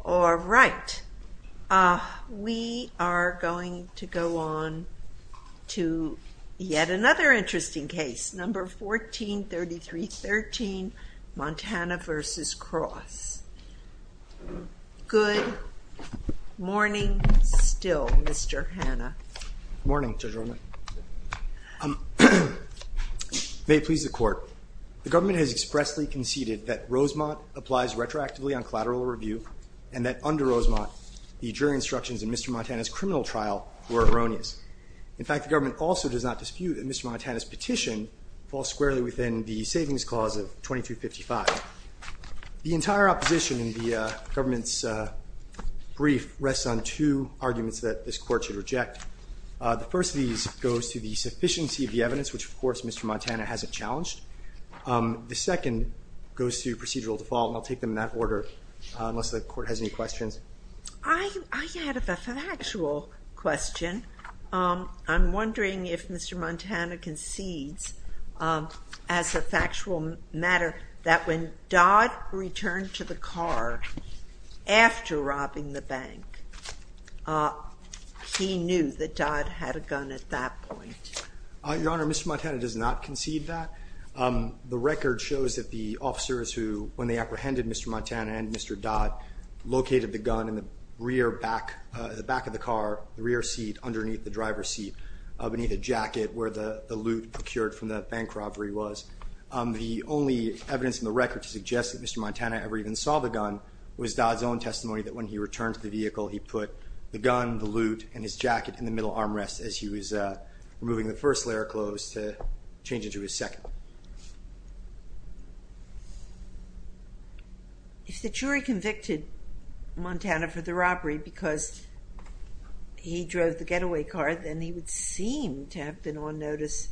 All right, we are going to go on to yet another interesting case, No. 143313, Montana v. Cross. Good morning still, Mr. Hanna. Good morning, Judge Roman. May it please the Court, The Government has expressly conceded that Rosemont applies retroactively on collateral review, and that under Rosemont, the jury instructions in Mr. Montana's criminal trial were erroneous. In fact, the Government also does not dispute that Mr. Montana's petition falls squarely within the Savings Clause of 2255. The entire opposition in the Government's brief rests on two arguments that this Court should reject. The first of these goes to the sufficiency of the evidence, which of course Mr. Montana hasn't challenged. The second goes to procedural default, and I'll take them in that order, unless the Court has any questions. I had a factual question. I'm wondering if Mr. Montana concedes, as a factual matter, that when Dodd returned to the car after robbing the bank, he knew that Dodd had a gun at that point. Your Honor, Mr. Montana does not concede that. The record shows that the officers who, when they apprehended Mr. Montana and Mr. Dodd, located the gun in the rear back of the car, the rear seat underneath the driver's seat, beneath the jacket where the loot procured from the bank robbery was. The only evidence in the record to suggest that Mr. Montana ever even saw the gun was Dodd's own testimony that when he returned to the vehicle, he put the gun, the loot, and his jacket in the middle armrest as he was removing the first layer of clothes to change into his second. If the jury convicted Montana for the robbery because he drove the getaway car, then he would seem to have been on notice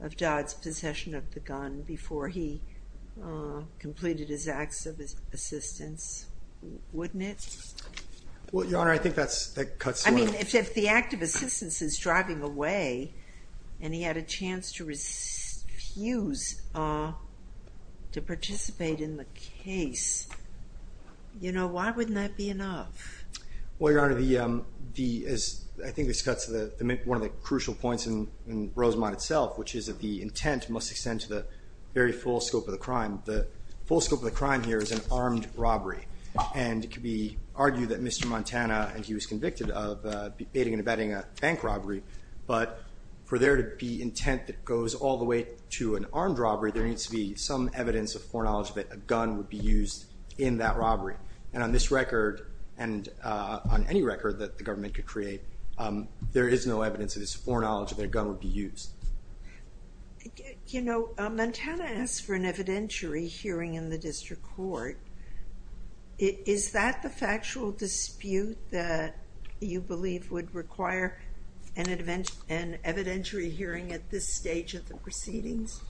of Dodd's possession of the gun before he completed his acts of assistance, wouldn't it? Well, Your Honor, I think that cuts to it. If the act of assistance is driving away and he had a chance to refuse to participate in the case, why wouldn't that be enough? Well, Your Honor, I think this cuts to one of the crucial points in Rosemont itself, which is that the intent must extend to the very full scope of the crime. The full scope of the crime here is an armed robbery. And it could be argued that Mr. Montana, and he was convicted of aiding and abetting a bank robbery, but for there to be intent that goes all the way to an armed robbery, there needs to be some evidence of foreknowledge that a gun would be used in that robbery. And on this record and on any record that the government could create, there is no evidence that it's foreknowledge that a gun would be used. You know, Montana asked for an evidentiary hearing in the district court. Is that the factual dispute that you believe would require an evidentiary hearing at this stage of the proceedings?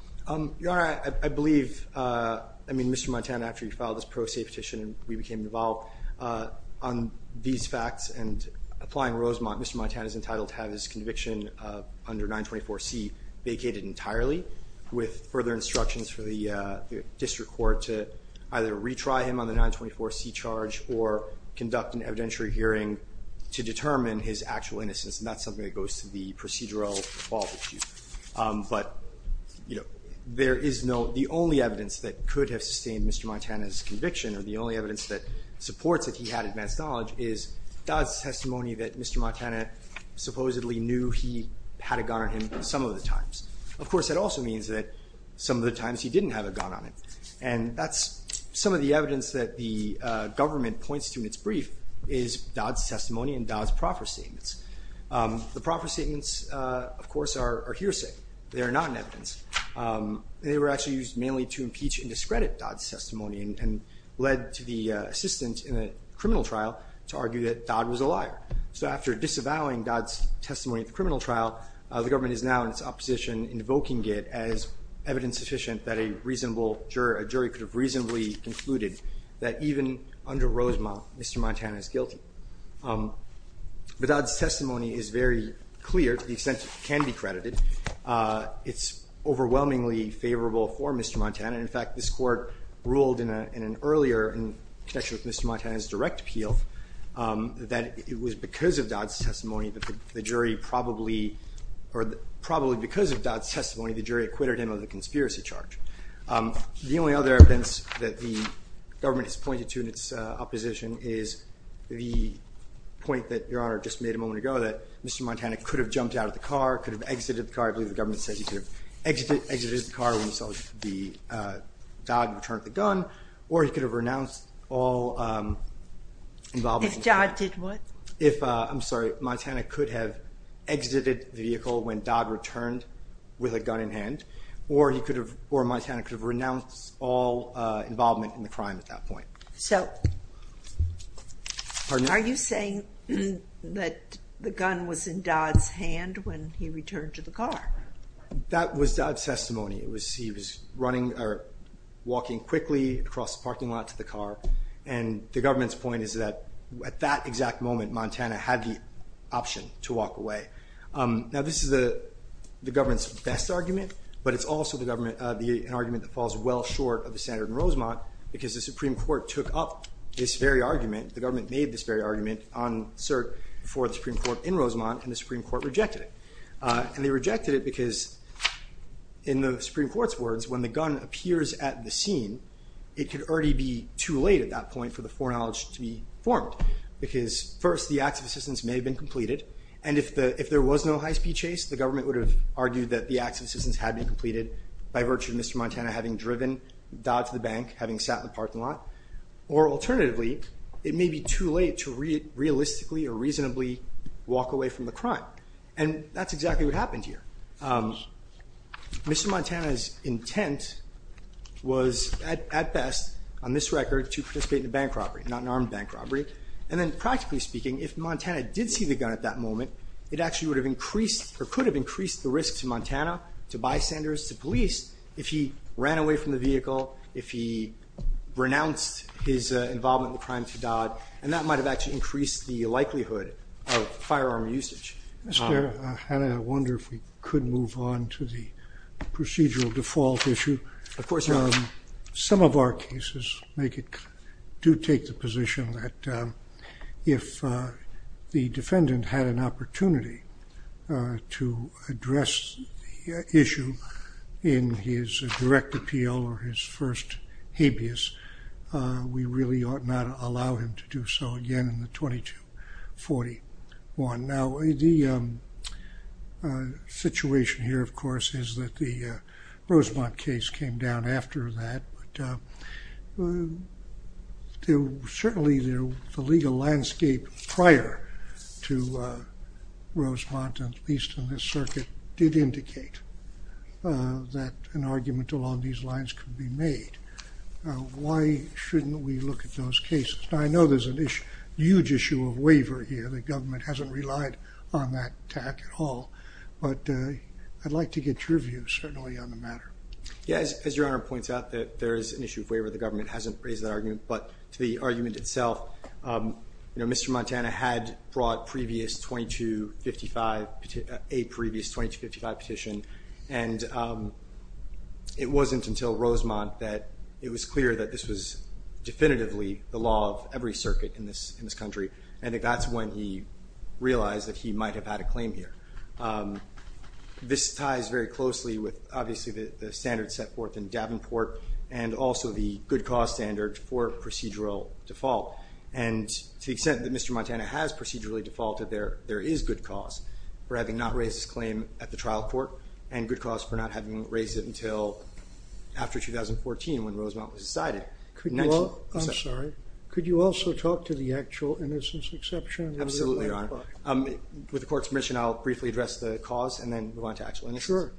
Your Honor, I believe, I mean, Mr. Montana, after he filed his pro se petition, we became involved on these facts. And applying Rosemont, Mr. Montana is entitled to have his conviction under 924C vacated entirely with further instructions for the district court to either retry him on the 924C charge or conduct an evidentiary hearing to determine his actual innocence. And that's something that goes to the procedural fault dispute. But, you know, there is no, the only evidence that could have sustained Mr. Montana's conviction or the only evidence that supports that he had advanced knowledge is Dodd's testimony that Mr. Montana supposedly knew he had a gun on him some of the times. Of course, that also means that some of the times he didn't have a gun on him. And that's some of the evidence that the government points to in its brief is Dodd's testimony and Dodd's proffer statements. The proffer statements, of course, are hearsay. They are not an evidence. They were actually used mainly to impeach and discredit Dodd's testimony and led to the assistant in a criminal trial to argue that Dodd was a liar. So after disavowing Dodd's testimony at the criminal trial, the government is now in its opposition invoking it as evidence sufficient that a reasonable juror, a jury could have reasonably concluded that even under Rosemont, Mr. Montana is guilty. But Dodd's testimony is very clear to the extent it can be credited. It's overwhelmingly favorable for Mr. Montana. In fact, this court ruled in an earlier connection with Mr. Montana's direct appeal that it was because of Dodd's testimony that the jury probably, or probably because of Dodd's testimony, the jury acquitted him of the conspiracy charge. The only other evidence that the government has pointed to in its opposition is the point that Your Honor just made a moment ago that Mr. Montana could have jumped out of the car, could have exited the car. I believe the government says he could have exited the car when he saw Dodd return the gun, or he could have renounced all involvement. If Dodd did what? If, I'm sorry, Montana could have exited the vehicle when Dodd returned with a gun in hand, or he could have, or Montana could have renounced all involvement in the crime at that point. So are you saying that the gun was in Dodd's hand when he returned to the car? He was running or walking quickly across the parking lot to the car, and the government's point is that at that exact moment Montana had the option to walk away. Now this is the government's best argument, but it's also an argument that falls well short of the standard in Rosemont because the Supreme Court took up this very argument. The government made this very argument on cert for the Supreme Court in Rosemont, and the Supreme Court rejected it. And they rejected it because in the Supreme Court's words, when the gun appears at the scene, it could already be too late at that point for the foreknowledge to be formed. Because first, the acts of assistance may have been completed, and if there was no high-speed chase, the government would have argued that the acts of assistance had been completed by virtue of Mr. Montana having driven Dodd to the bank, having sat in the parking lot. Or alternatively, it may be too late to realistically or reasonably walk away from the crime. And that's exactly what happened here. Mr. Montana's intent was at best, on this record, to participate in a bank robbery, not an armed bank robbery. And then practically speaking, if Montana did see the gun at that moment, it actually would have increased or could have increased the risk to Montana, to bystanders, to police, if he ran away from the vehicle, if he renounced his involvement in the crime to Dodd. And that might have actually increased the likelihood of firearm usage. Mr. Hanna, I wonder if we could move on to the procedural default issue. Of course, Your Honor. Some of our cases do take the position that if the defendant had an opportunity to address the issue in his direct appeal or his first habeas, we really ought not allow him to do so again in the 2241. Now, the situation here, of course, is that the Rosemont case came down after that. But certainly, the legal landscape prior to Rosemont, at least in this circuit, did indicate that an argument along these lines could be made. Why shouldn't we look at those cases? I know there's a huge issue of waiver here. The government hasn't relied on that tack at all. But I'd like to get your views, certainly, on the matter. Yes, as Your Honor points out, there is an issue of waiver. The government hasn't raised that argument. But to the argument itself, Mr. Montana had brought a previous 2255 petition. And it wasn't until Rosemont that it was clear that this was definitively the law of every circuit in this country. And that's when he realized that he might have had a claim here. This ties very closely with, obviously, the standards set forth in Davenport and also the good cause standard for procedural default. And to the extent that Mr. Montana has procedurally defaulted, there is good cause for having not raised this claim at the trial court. And good cause for not having raised it until after 2014, when Rosemont was decided. I'm sorry. Could you also talk to the actual innocence exception? Absolutely, Your Honor. With the court's permission, I'll briefly address the cause and then move on to actual innocence. Sure.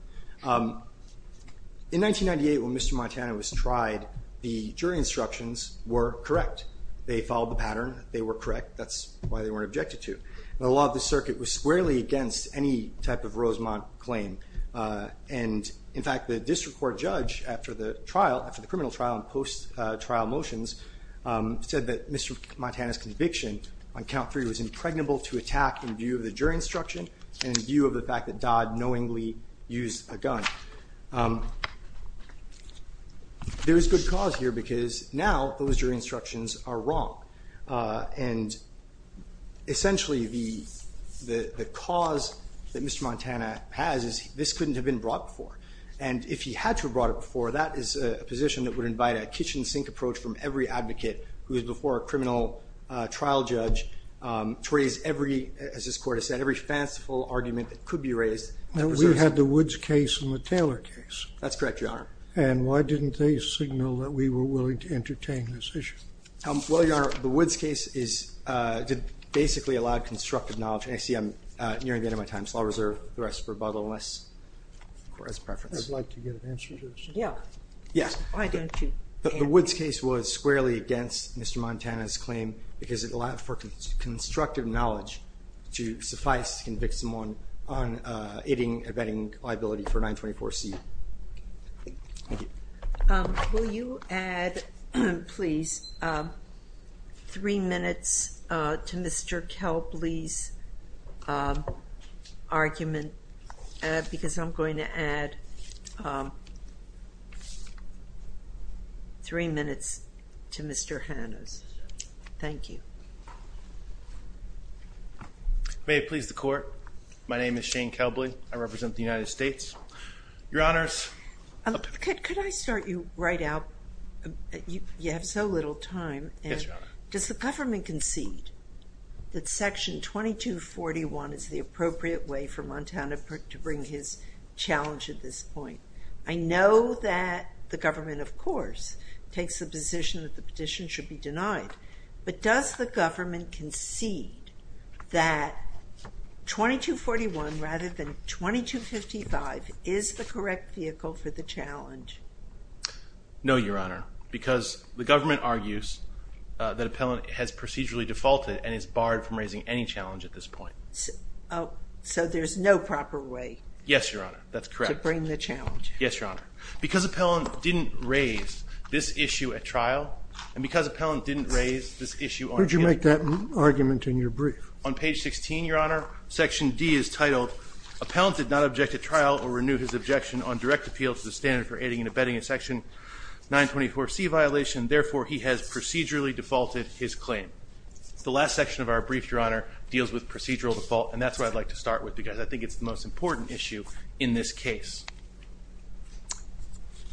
In 1998, when Mr. Montana was tried, the jury instructions were correct. They followed the pattern. They were correct. That's why they weren't objected to. The law of the circuit was squarely against any type of Rosemont claim. And, in fact, the district court judge, after the criminal trial and post-trial motions, said that Mr. Montana's conviction on count three was impregnable to attack in view of the jury instruction and in view of the fact that Dodd knowingly used a gun. There is good cause here because now those jury instructions are wrong. And, essentially, the cause that Mr. Montana has is this couldn't have been brought before. And if he had to have brought it before, that is a position that would invite a kitchen sink approach from every advocate who is before a criminal trial judge to raise every, as this court has said, every fanciful argument that could be raised. Now, we had the Woods case and the Taylor case. That's correct, Your Honor. And why didn't they signal that we were willing to entertain this issue? Well, Your Honor, the Woods case basically allowed constructive knowledge. And I see I'm nearing the end of my time, so I'll reserve the rest of rebuttal unless it's a preference. I'd like to get an answer to this. Yeah. Yes. Why don't you answer? The Woods case was squarely against Mr. Montana's claim because it allowed for constructive knowledge to suffice to convict someone on aiding and abetting liability for 924C. Thank you. Will you add, please, three minutes to Mr. Kelbley's argument? Because I'm going to add three minutes to Mr. Hanna's. Thank you. May it please the Court, my name is Shane Kelbley. I represent the United States. Your Honors. Could I start you right out? You have so little time. Yes, Your Honor. Does the government concede that Section 2241 is the appropriate way for Montana to bring his challenge at this point? I know that the government, of course, takes the position that the petition should be denied. But does the government concede that 2241 rather than 2255 is the correct vehicle for the challenge? No, Your Honor, because the government argues that appellant has procedurally defaulted and is barred from raising any challenge at this point. So there's no proper way? Yes, Your Honor, that's correct. Yes, Your Honor. Because appellant didn't raise this issue at trial and because appellant didn't raise this issue on him. Where did you make that argument in your brief? On page 16, Your Honor, Section D is titled, Appellant did not object at trial or renew his objection on direct appeal to the standard for aiding and abetting a Section 924C violation. Therefore, he has procedurally defaulted his claim. The last section of our brief, Your Honor, deals with procedural default. And that's what I'd like to start with because I think it's the most important issue in this case.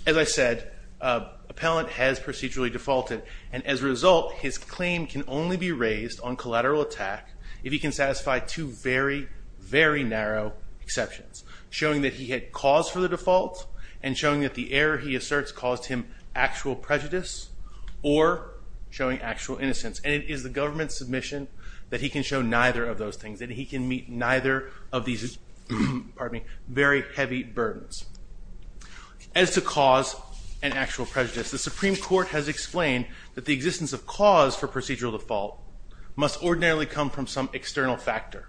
As I said, appellant has procedurally defaulted. And as a result, his claim can only be raised on collateral attack if he can satisfy two very, very narrow exceptions. Showing that he had cause for the default and showing that the error he asserts caused him actual prejudice or showing actual innocence. And it is the government's submission that he can show neither of those things. That he can meet neither of these very heavy burdens. As to cause and actual prejudice, the Supreme Court has explained that the existence of cause for procedural default must ordinarily come from some external factor.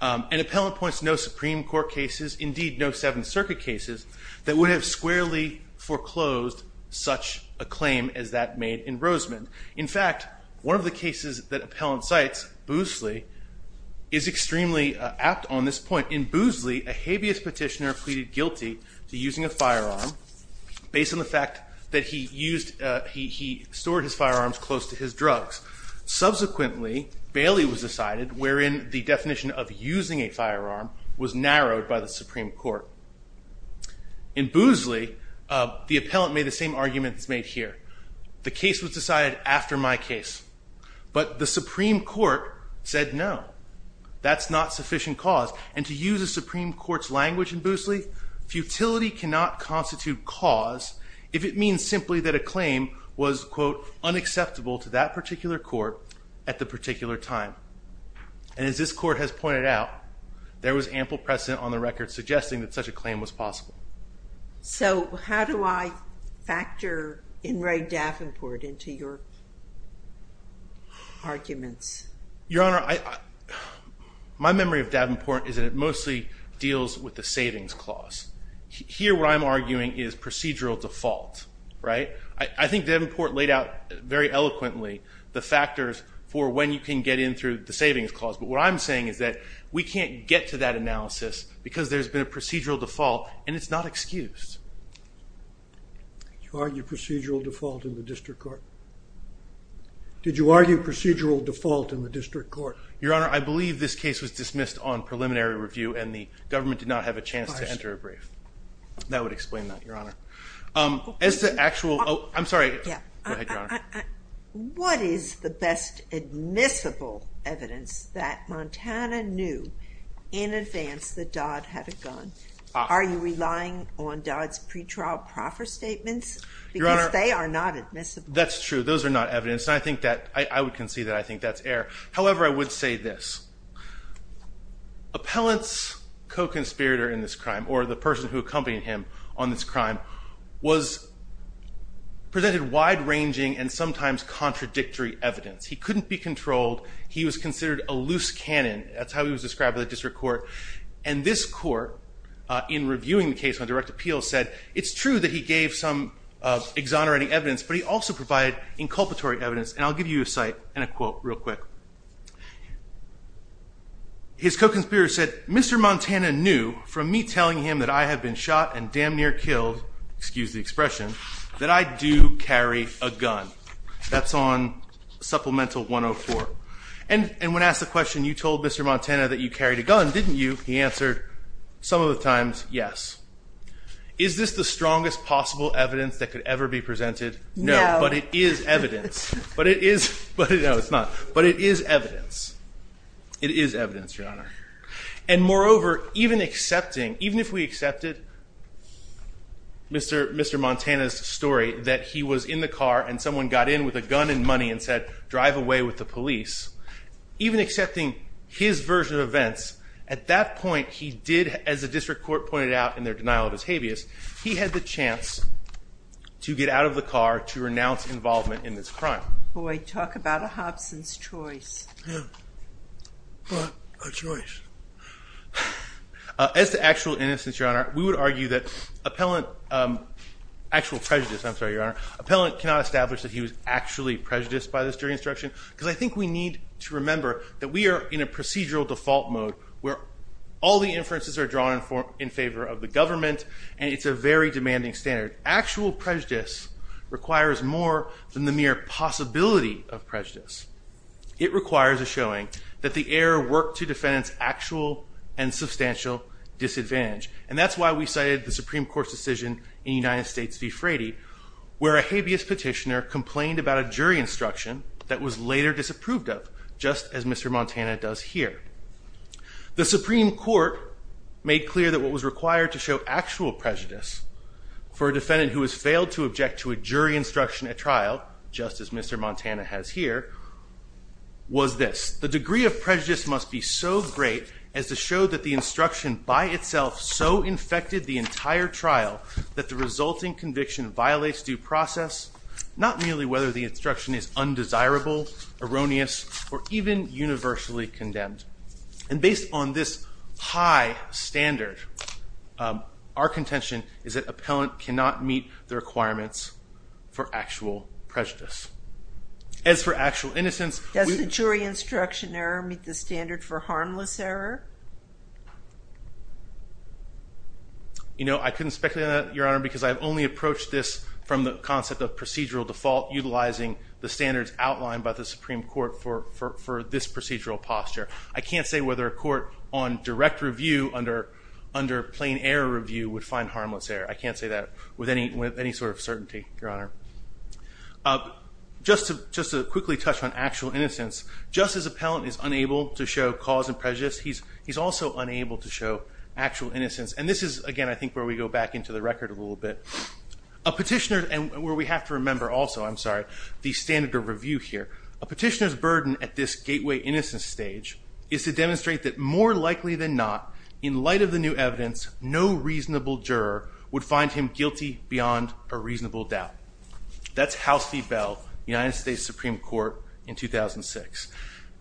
And appellant points to no Supreme Court cases, indeed no Seventh Circuit cases, that would have squarely foreclosed such a claim as that made in Roseman. In fact, one of the cases that appellant cites, Boosley, is extremely apt on this point. In Boosley, a habeas petitioner pleaded guilty to using a firearm based on the fact that he stored his firearms close to his drugs. Subsequently, Bailey was decided wherein the definition of using a firearm was narrowed by the Supreme Court. In Boosley, the appellant made the same arguments made here. The case was decided after my case. But the Supreme Court said no. That's not sufficient cause. And to use the Supreme Court's language in Boosley, futility cannot constitute cause if it means simply that a claim was, quote, unacceptable to that particular court at the particular time. And as this court has pointed out, there was ample precedent on the record suggesting that such a claim was possible. So how do I factor Inouye Davenport into your arguments? Your Honor, my memory of Davenport is that it mostly deals with the savings clause. Here, what I'm arguing is procedural default, right? I think Davenport laid out very eloquently the factors for when you can get in through the savings clause. But what I'm saying is that we can't get to that analysis because there's been a procedural default and it's not excused. You argue procedural default in the district court? Did you argue procedural default in the district court? Your Honor, I believe this case was dismissed on preliminary review and the government did not have a chance to enter a brief. That would explain that, Your Honor. As to actual, oh, I'm sorry. Yeah. Go ahead, Your Honor. What is the best admissible evidence that Montana knew in advance that Dodd had a gun? Are you relying on Dodd's pretrial proffer statements? Because they are not admissible. That's true. Those are not evidence. And I think that I would concede that I think that's error. However, I would say this. Appellant's co-conspirator in this crime, or the person who accompanied him on this crime, presented wide-ranging and sometimes contradictory evidence. He couldn't be controlled. He was considered a loose cannon. That's how he was described by the district court. And this court, in reviewing the case on direct appeal, said it's true that he gave some exonerating evidence, but he also provided inculpatory evidence. And I'll give you a cite and a quote real quick. His co-conspirator said, Mr. Montana knew from me telling him that I had been shot and damn near killed, excuse the expression, that I do carry a gun. That's on Supplemental 104. And when asked the question, you told Mr. Montana that you carried a gun, didn't you? He answered, some of the times, yes. Is this the strongest possible evidence that could ever be presented? No. But it is evidence. But it is. No, it's not. But it is evidence. It is evidence, Your Honor. And moreover, even accepting, even if we accepted Mr. Montana's story that he was in the car and someone got in with a gun and money and said, drive away with the police, even accepting his version of events, at that point he did, as the district court pointed out in their denial of his habeas, he had the chance to get out of the car to renounce involvement in this crime. Boy, talk about a Hobson's choice. Yeah. What a choice. As to actual innocence, Your Honor, we would argue that appellant, actual prejudice, I'm sorry, Your Honor, appellant cannot establish that he was actually prejudiced by this jury instruction. Because I think we need to remember that we are in a procedural default mode where all the inferences are drawn in favor of the government. And it's a very demanding standard. Actual prejudice requires more than the mere possibility of prejudice. It requires a showing that the error worked to defendant's actual and substantial disadvantage. And that's why we cited the Supreme Court's decision in United States v. Frady, where a habeas petitioner complained about a jury instruction that was later disapproved of, just as Mr. Montana does here. The Supreme Court made clear that what was required to show actual prejudice for a defendant who has failed to object to a jury instruction at trial, just as Mr. Montana has here, was this. The degree of prejudice must be so great as to show that the instruction by itself so infected the entire trial that the resulting conviction violates due process, not merely whether the instruction is undesirable, erroneous, or even universally condemned. And based on this high standard, our contention is that appellant cannot meet the requirements for actual prejudice. As for actual innocence- Does the jury instruction error meet the standard for harmless error? You know, I couldn't speculate on that, Your Honor, because I've only approached this from the concept of procedural default utilizing the standards outlined by the Supreme Court for this procedural posture. I can't say whether a court on direct review under plain error review would find harmless error. I can't say that with any sort of certainty, Your Honor. Just to quickly touch on actual innocence, just as appellant is unable to show cause and prejudice, he's also unable to show actual innocence. And this is, again, I think where we go back into the record a little bit. And where we have to remember also, I'm sorry, the standard of review here. A petitioner's burden at this gateway innocence stage is to demonstrate that more likely than not, in light of the new evidence, no reasonable juror would find him guilty beyond a reasonable doubt. That's House v. Bell, United States Supreme Court, in 2006.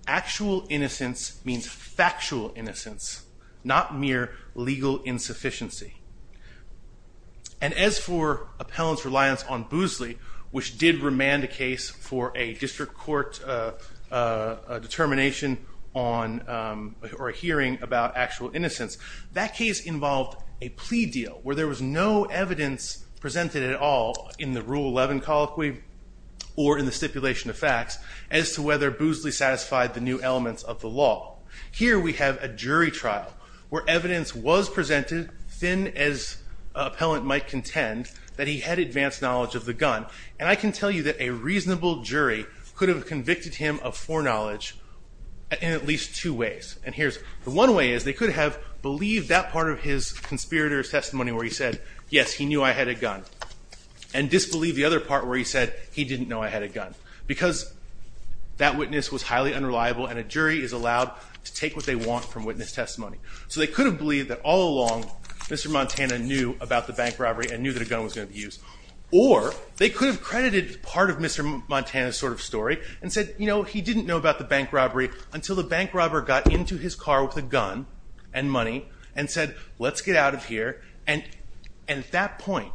Actual innocence means factual innocence, not mere legal insufficiency. And as for appellant's reliance on Boosley, which did remand a case for a district court determination or a hearing about actual innocence, that case involved a plea deal where there was no evidence presented at all in the Rule 11 colloquy or in the stipulation of facts as to whether Boosley satisfied the new elements of the law. Here we have a jury trial where evidence was presented, thin as appellant might contend, that he had advanced knowledge of the gun. And I can tell you that a reasonable jury could have convicted him of foreknowledge in at least two ways. And here's the one way is they could have believed that part of his conspirator's testimony where he said, yes, he knew I had a gun. And disbelieved the other part where he said, he didn't know I had a gun. Because that witness was highly unreliable and a jury is allowed to take what they want from witness testimony. So they could have believed that all along Mr. Montana knew about the bank robbery and knew that a gun was going to be used. Or they could have credited part of Mr. Montana's sort of story and said, you know, he didn't know about the bank robbery until the bank robber got into his car with a gun and money and said, let's get out of here. And at that point,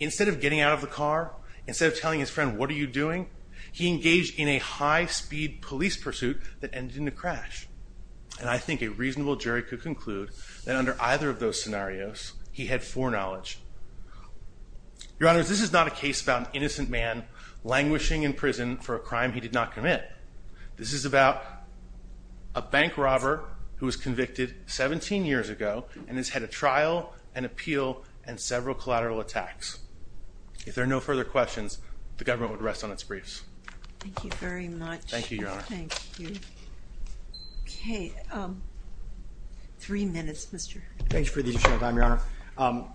instead of getting out of the car, instead of telling his friend, what are you doing? He engaged in a high speed police pursuit that ended in a crash. And I think a reasonable jury could conclude that under either of those scenarios, he had foreknowledge. Your Honor, this is not a case about an innocent man languishing in prison for a crime he did not commit. This is about a bank robber who was convicted 17 years ago and has had a trial and appeal and several collateral attacks. If there are no further questions, the government would rest on its briefs. Thank you very much. Thank you, Your Honor. Thank you. Okay. Three minutes, Mr. Thank you for the additional time, Your Honor.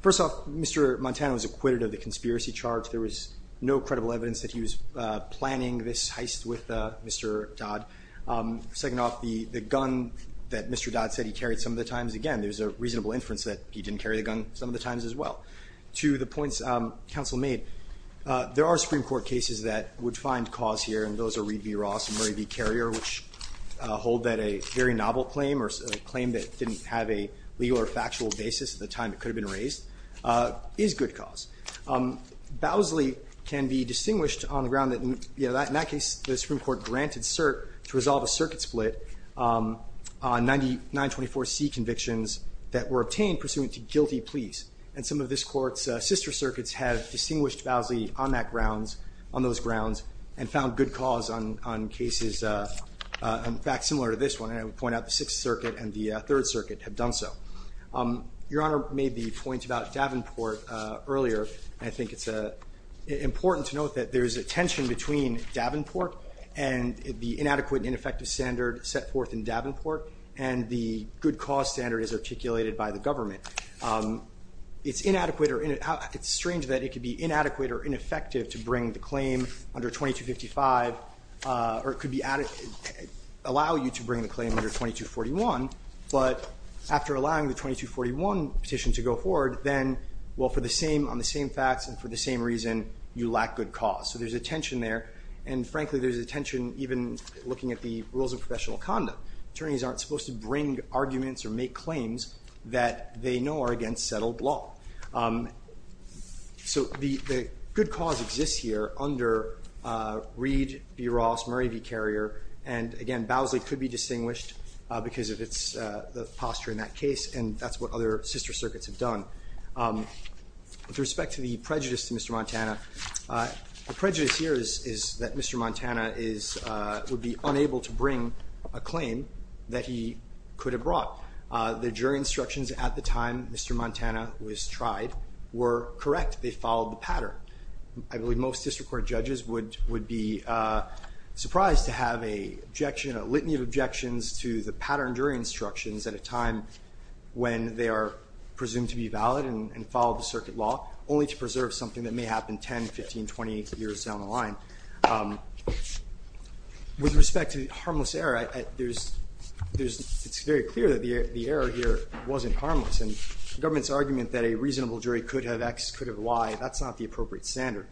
First off, Mr. Montana was acquitted of the conspiracy charge. There was no credible evidence that he was planning this heist with Mr. Dodd. Second off, the gun that Mr. Dodd said he carried some of the times, again, there's a reasonable inference that he didn't carry the gun some of the times as well. To the points counsel made, there are Supreme Court cases that would find cause here, and those are Reed v. Ross and Murray v. Carrier, which hold that a very novel claim or a claim that didn't have a legal or factual basis at the time it could have been raised is good cause. Bowsley can be distinguished on the ground that in that case the Supreme Court granted cert to resolve a circuit split on 924C convictions that were obtained pursuant to guilty pleas. And some of this court's sister circuits have distinguished Bowsley on that grounds, on those grounds, and found good cause on cases in fact similar to this one. And I would point out the Sixth Circuit and the Third Circuit have done so. Your Honor made the point about Davenport earlier. I think it's important to note that there's a tension between Davenport and the inadequate and ineffective standard set forth in Davenport, and the good cause standard is articulated by the government. It's strange that it could be inadequate or ineffective to bring the claim under 2255, or it could allow you to bring the claim under 2241, but after allowing the 2241 petition to go forward, then, well, on the same facts and for the same reason, you lack good cause. So there's a tension there. And frankly, there's a tension even looking at the rules of professional conduct. Attorneys aren't supposed to bring arguments or make claims that they know are against settled law. So the good cause exists here under Reed v. Ross, Murray v. Carrier, and again, Bowsley could be distinguished because of the posture in that case, and that's what other sister circuits have done. With respect to the prejudice to Mr. Montana, the prejudice here is that Mr. Montana would be unable to bring a claim that he could have brought. The jury instructions at the time Mr. Montana was tried were correct. They followed the pattern. I believe most district court judges would be surprised to have a litany of objections to the pattern jury instructions at a time when they are presumed to be valid and follow the circuit law, only to preserve something that may happen 10, 15, 20 years down the line. With respect to the harmless error, it's very clear that the error here wasn't harmless. And the government's argument that a reasonable jury could have X, could have Y, that's not the appropriate standard.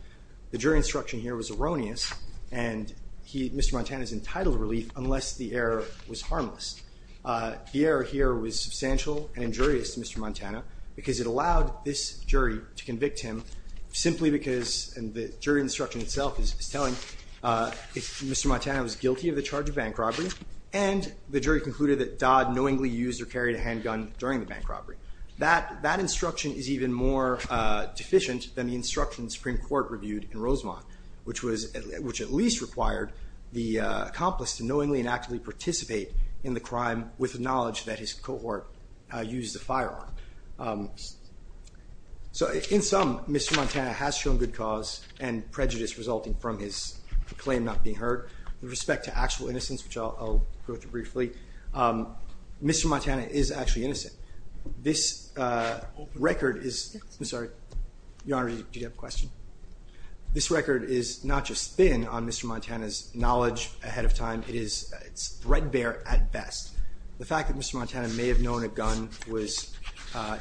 The jury instruction here was erroneous, and Mr. Montana is entitled to relief unless the error was harmless. The error here was substantial and injurious to Mr. Montana because it allowed this jury to convict him simply because, and the jury instruction itself is telling, Mr. Montana was guilty of the charge of bank robbery, and the jury concluded that Dodd knowingly used or carried a handgun during the bank robbery. That instruction is even more deficient than the instruction the Supreme Court reviewed in Rosemont, which at least required the accomplice to knowingly and actively participate in the crime with the knowledge that his cohort used the firearm. So in sum, Mr. Montana has shown good cause and prejudice resulting from his claim not being heard. With respect to actual innocence, which I'll go through briefly, Mr. Montana is actually innocent. This record is, I'm sorry, Your Honor, do you have a question? This record is not just thin on Mr. Montana's knowledge ahead of time, it is threadbare at best. The fact that Mr. Montana may have known a gun was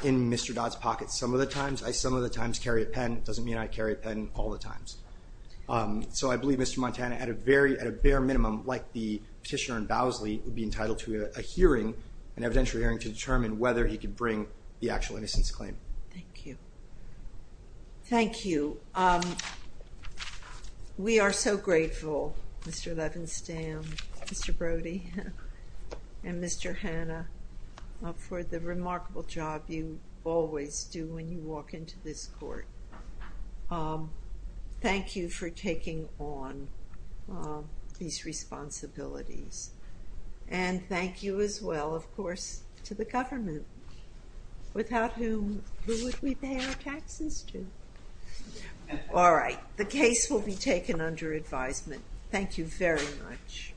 in Mr. Dodd's pocket some of the times. I some of the times carry a pen, doesn't mean I carry a pen all the times. So I believe Mr. Montana, at a very, at a bare minimum, like the petitioner in Bowsley, would be entitled to a hearing, an evidentiary hearing, to determine whether he could bring the actual innocence claim. Thank you. Thank you. We are so grateful, Mr. Levenstam, Mr. Brody, and Mr. Hanna, for the remarkable job you always do when you walk into this court. Thank you for taking on these responsibilities. And thank you as well, of course, to the government. Without whom, who would we pay our taxes to? All right. The case will be taken under advisement. Thank you very much.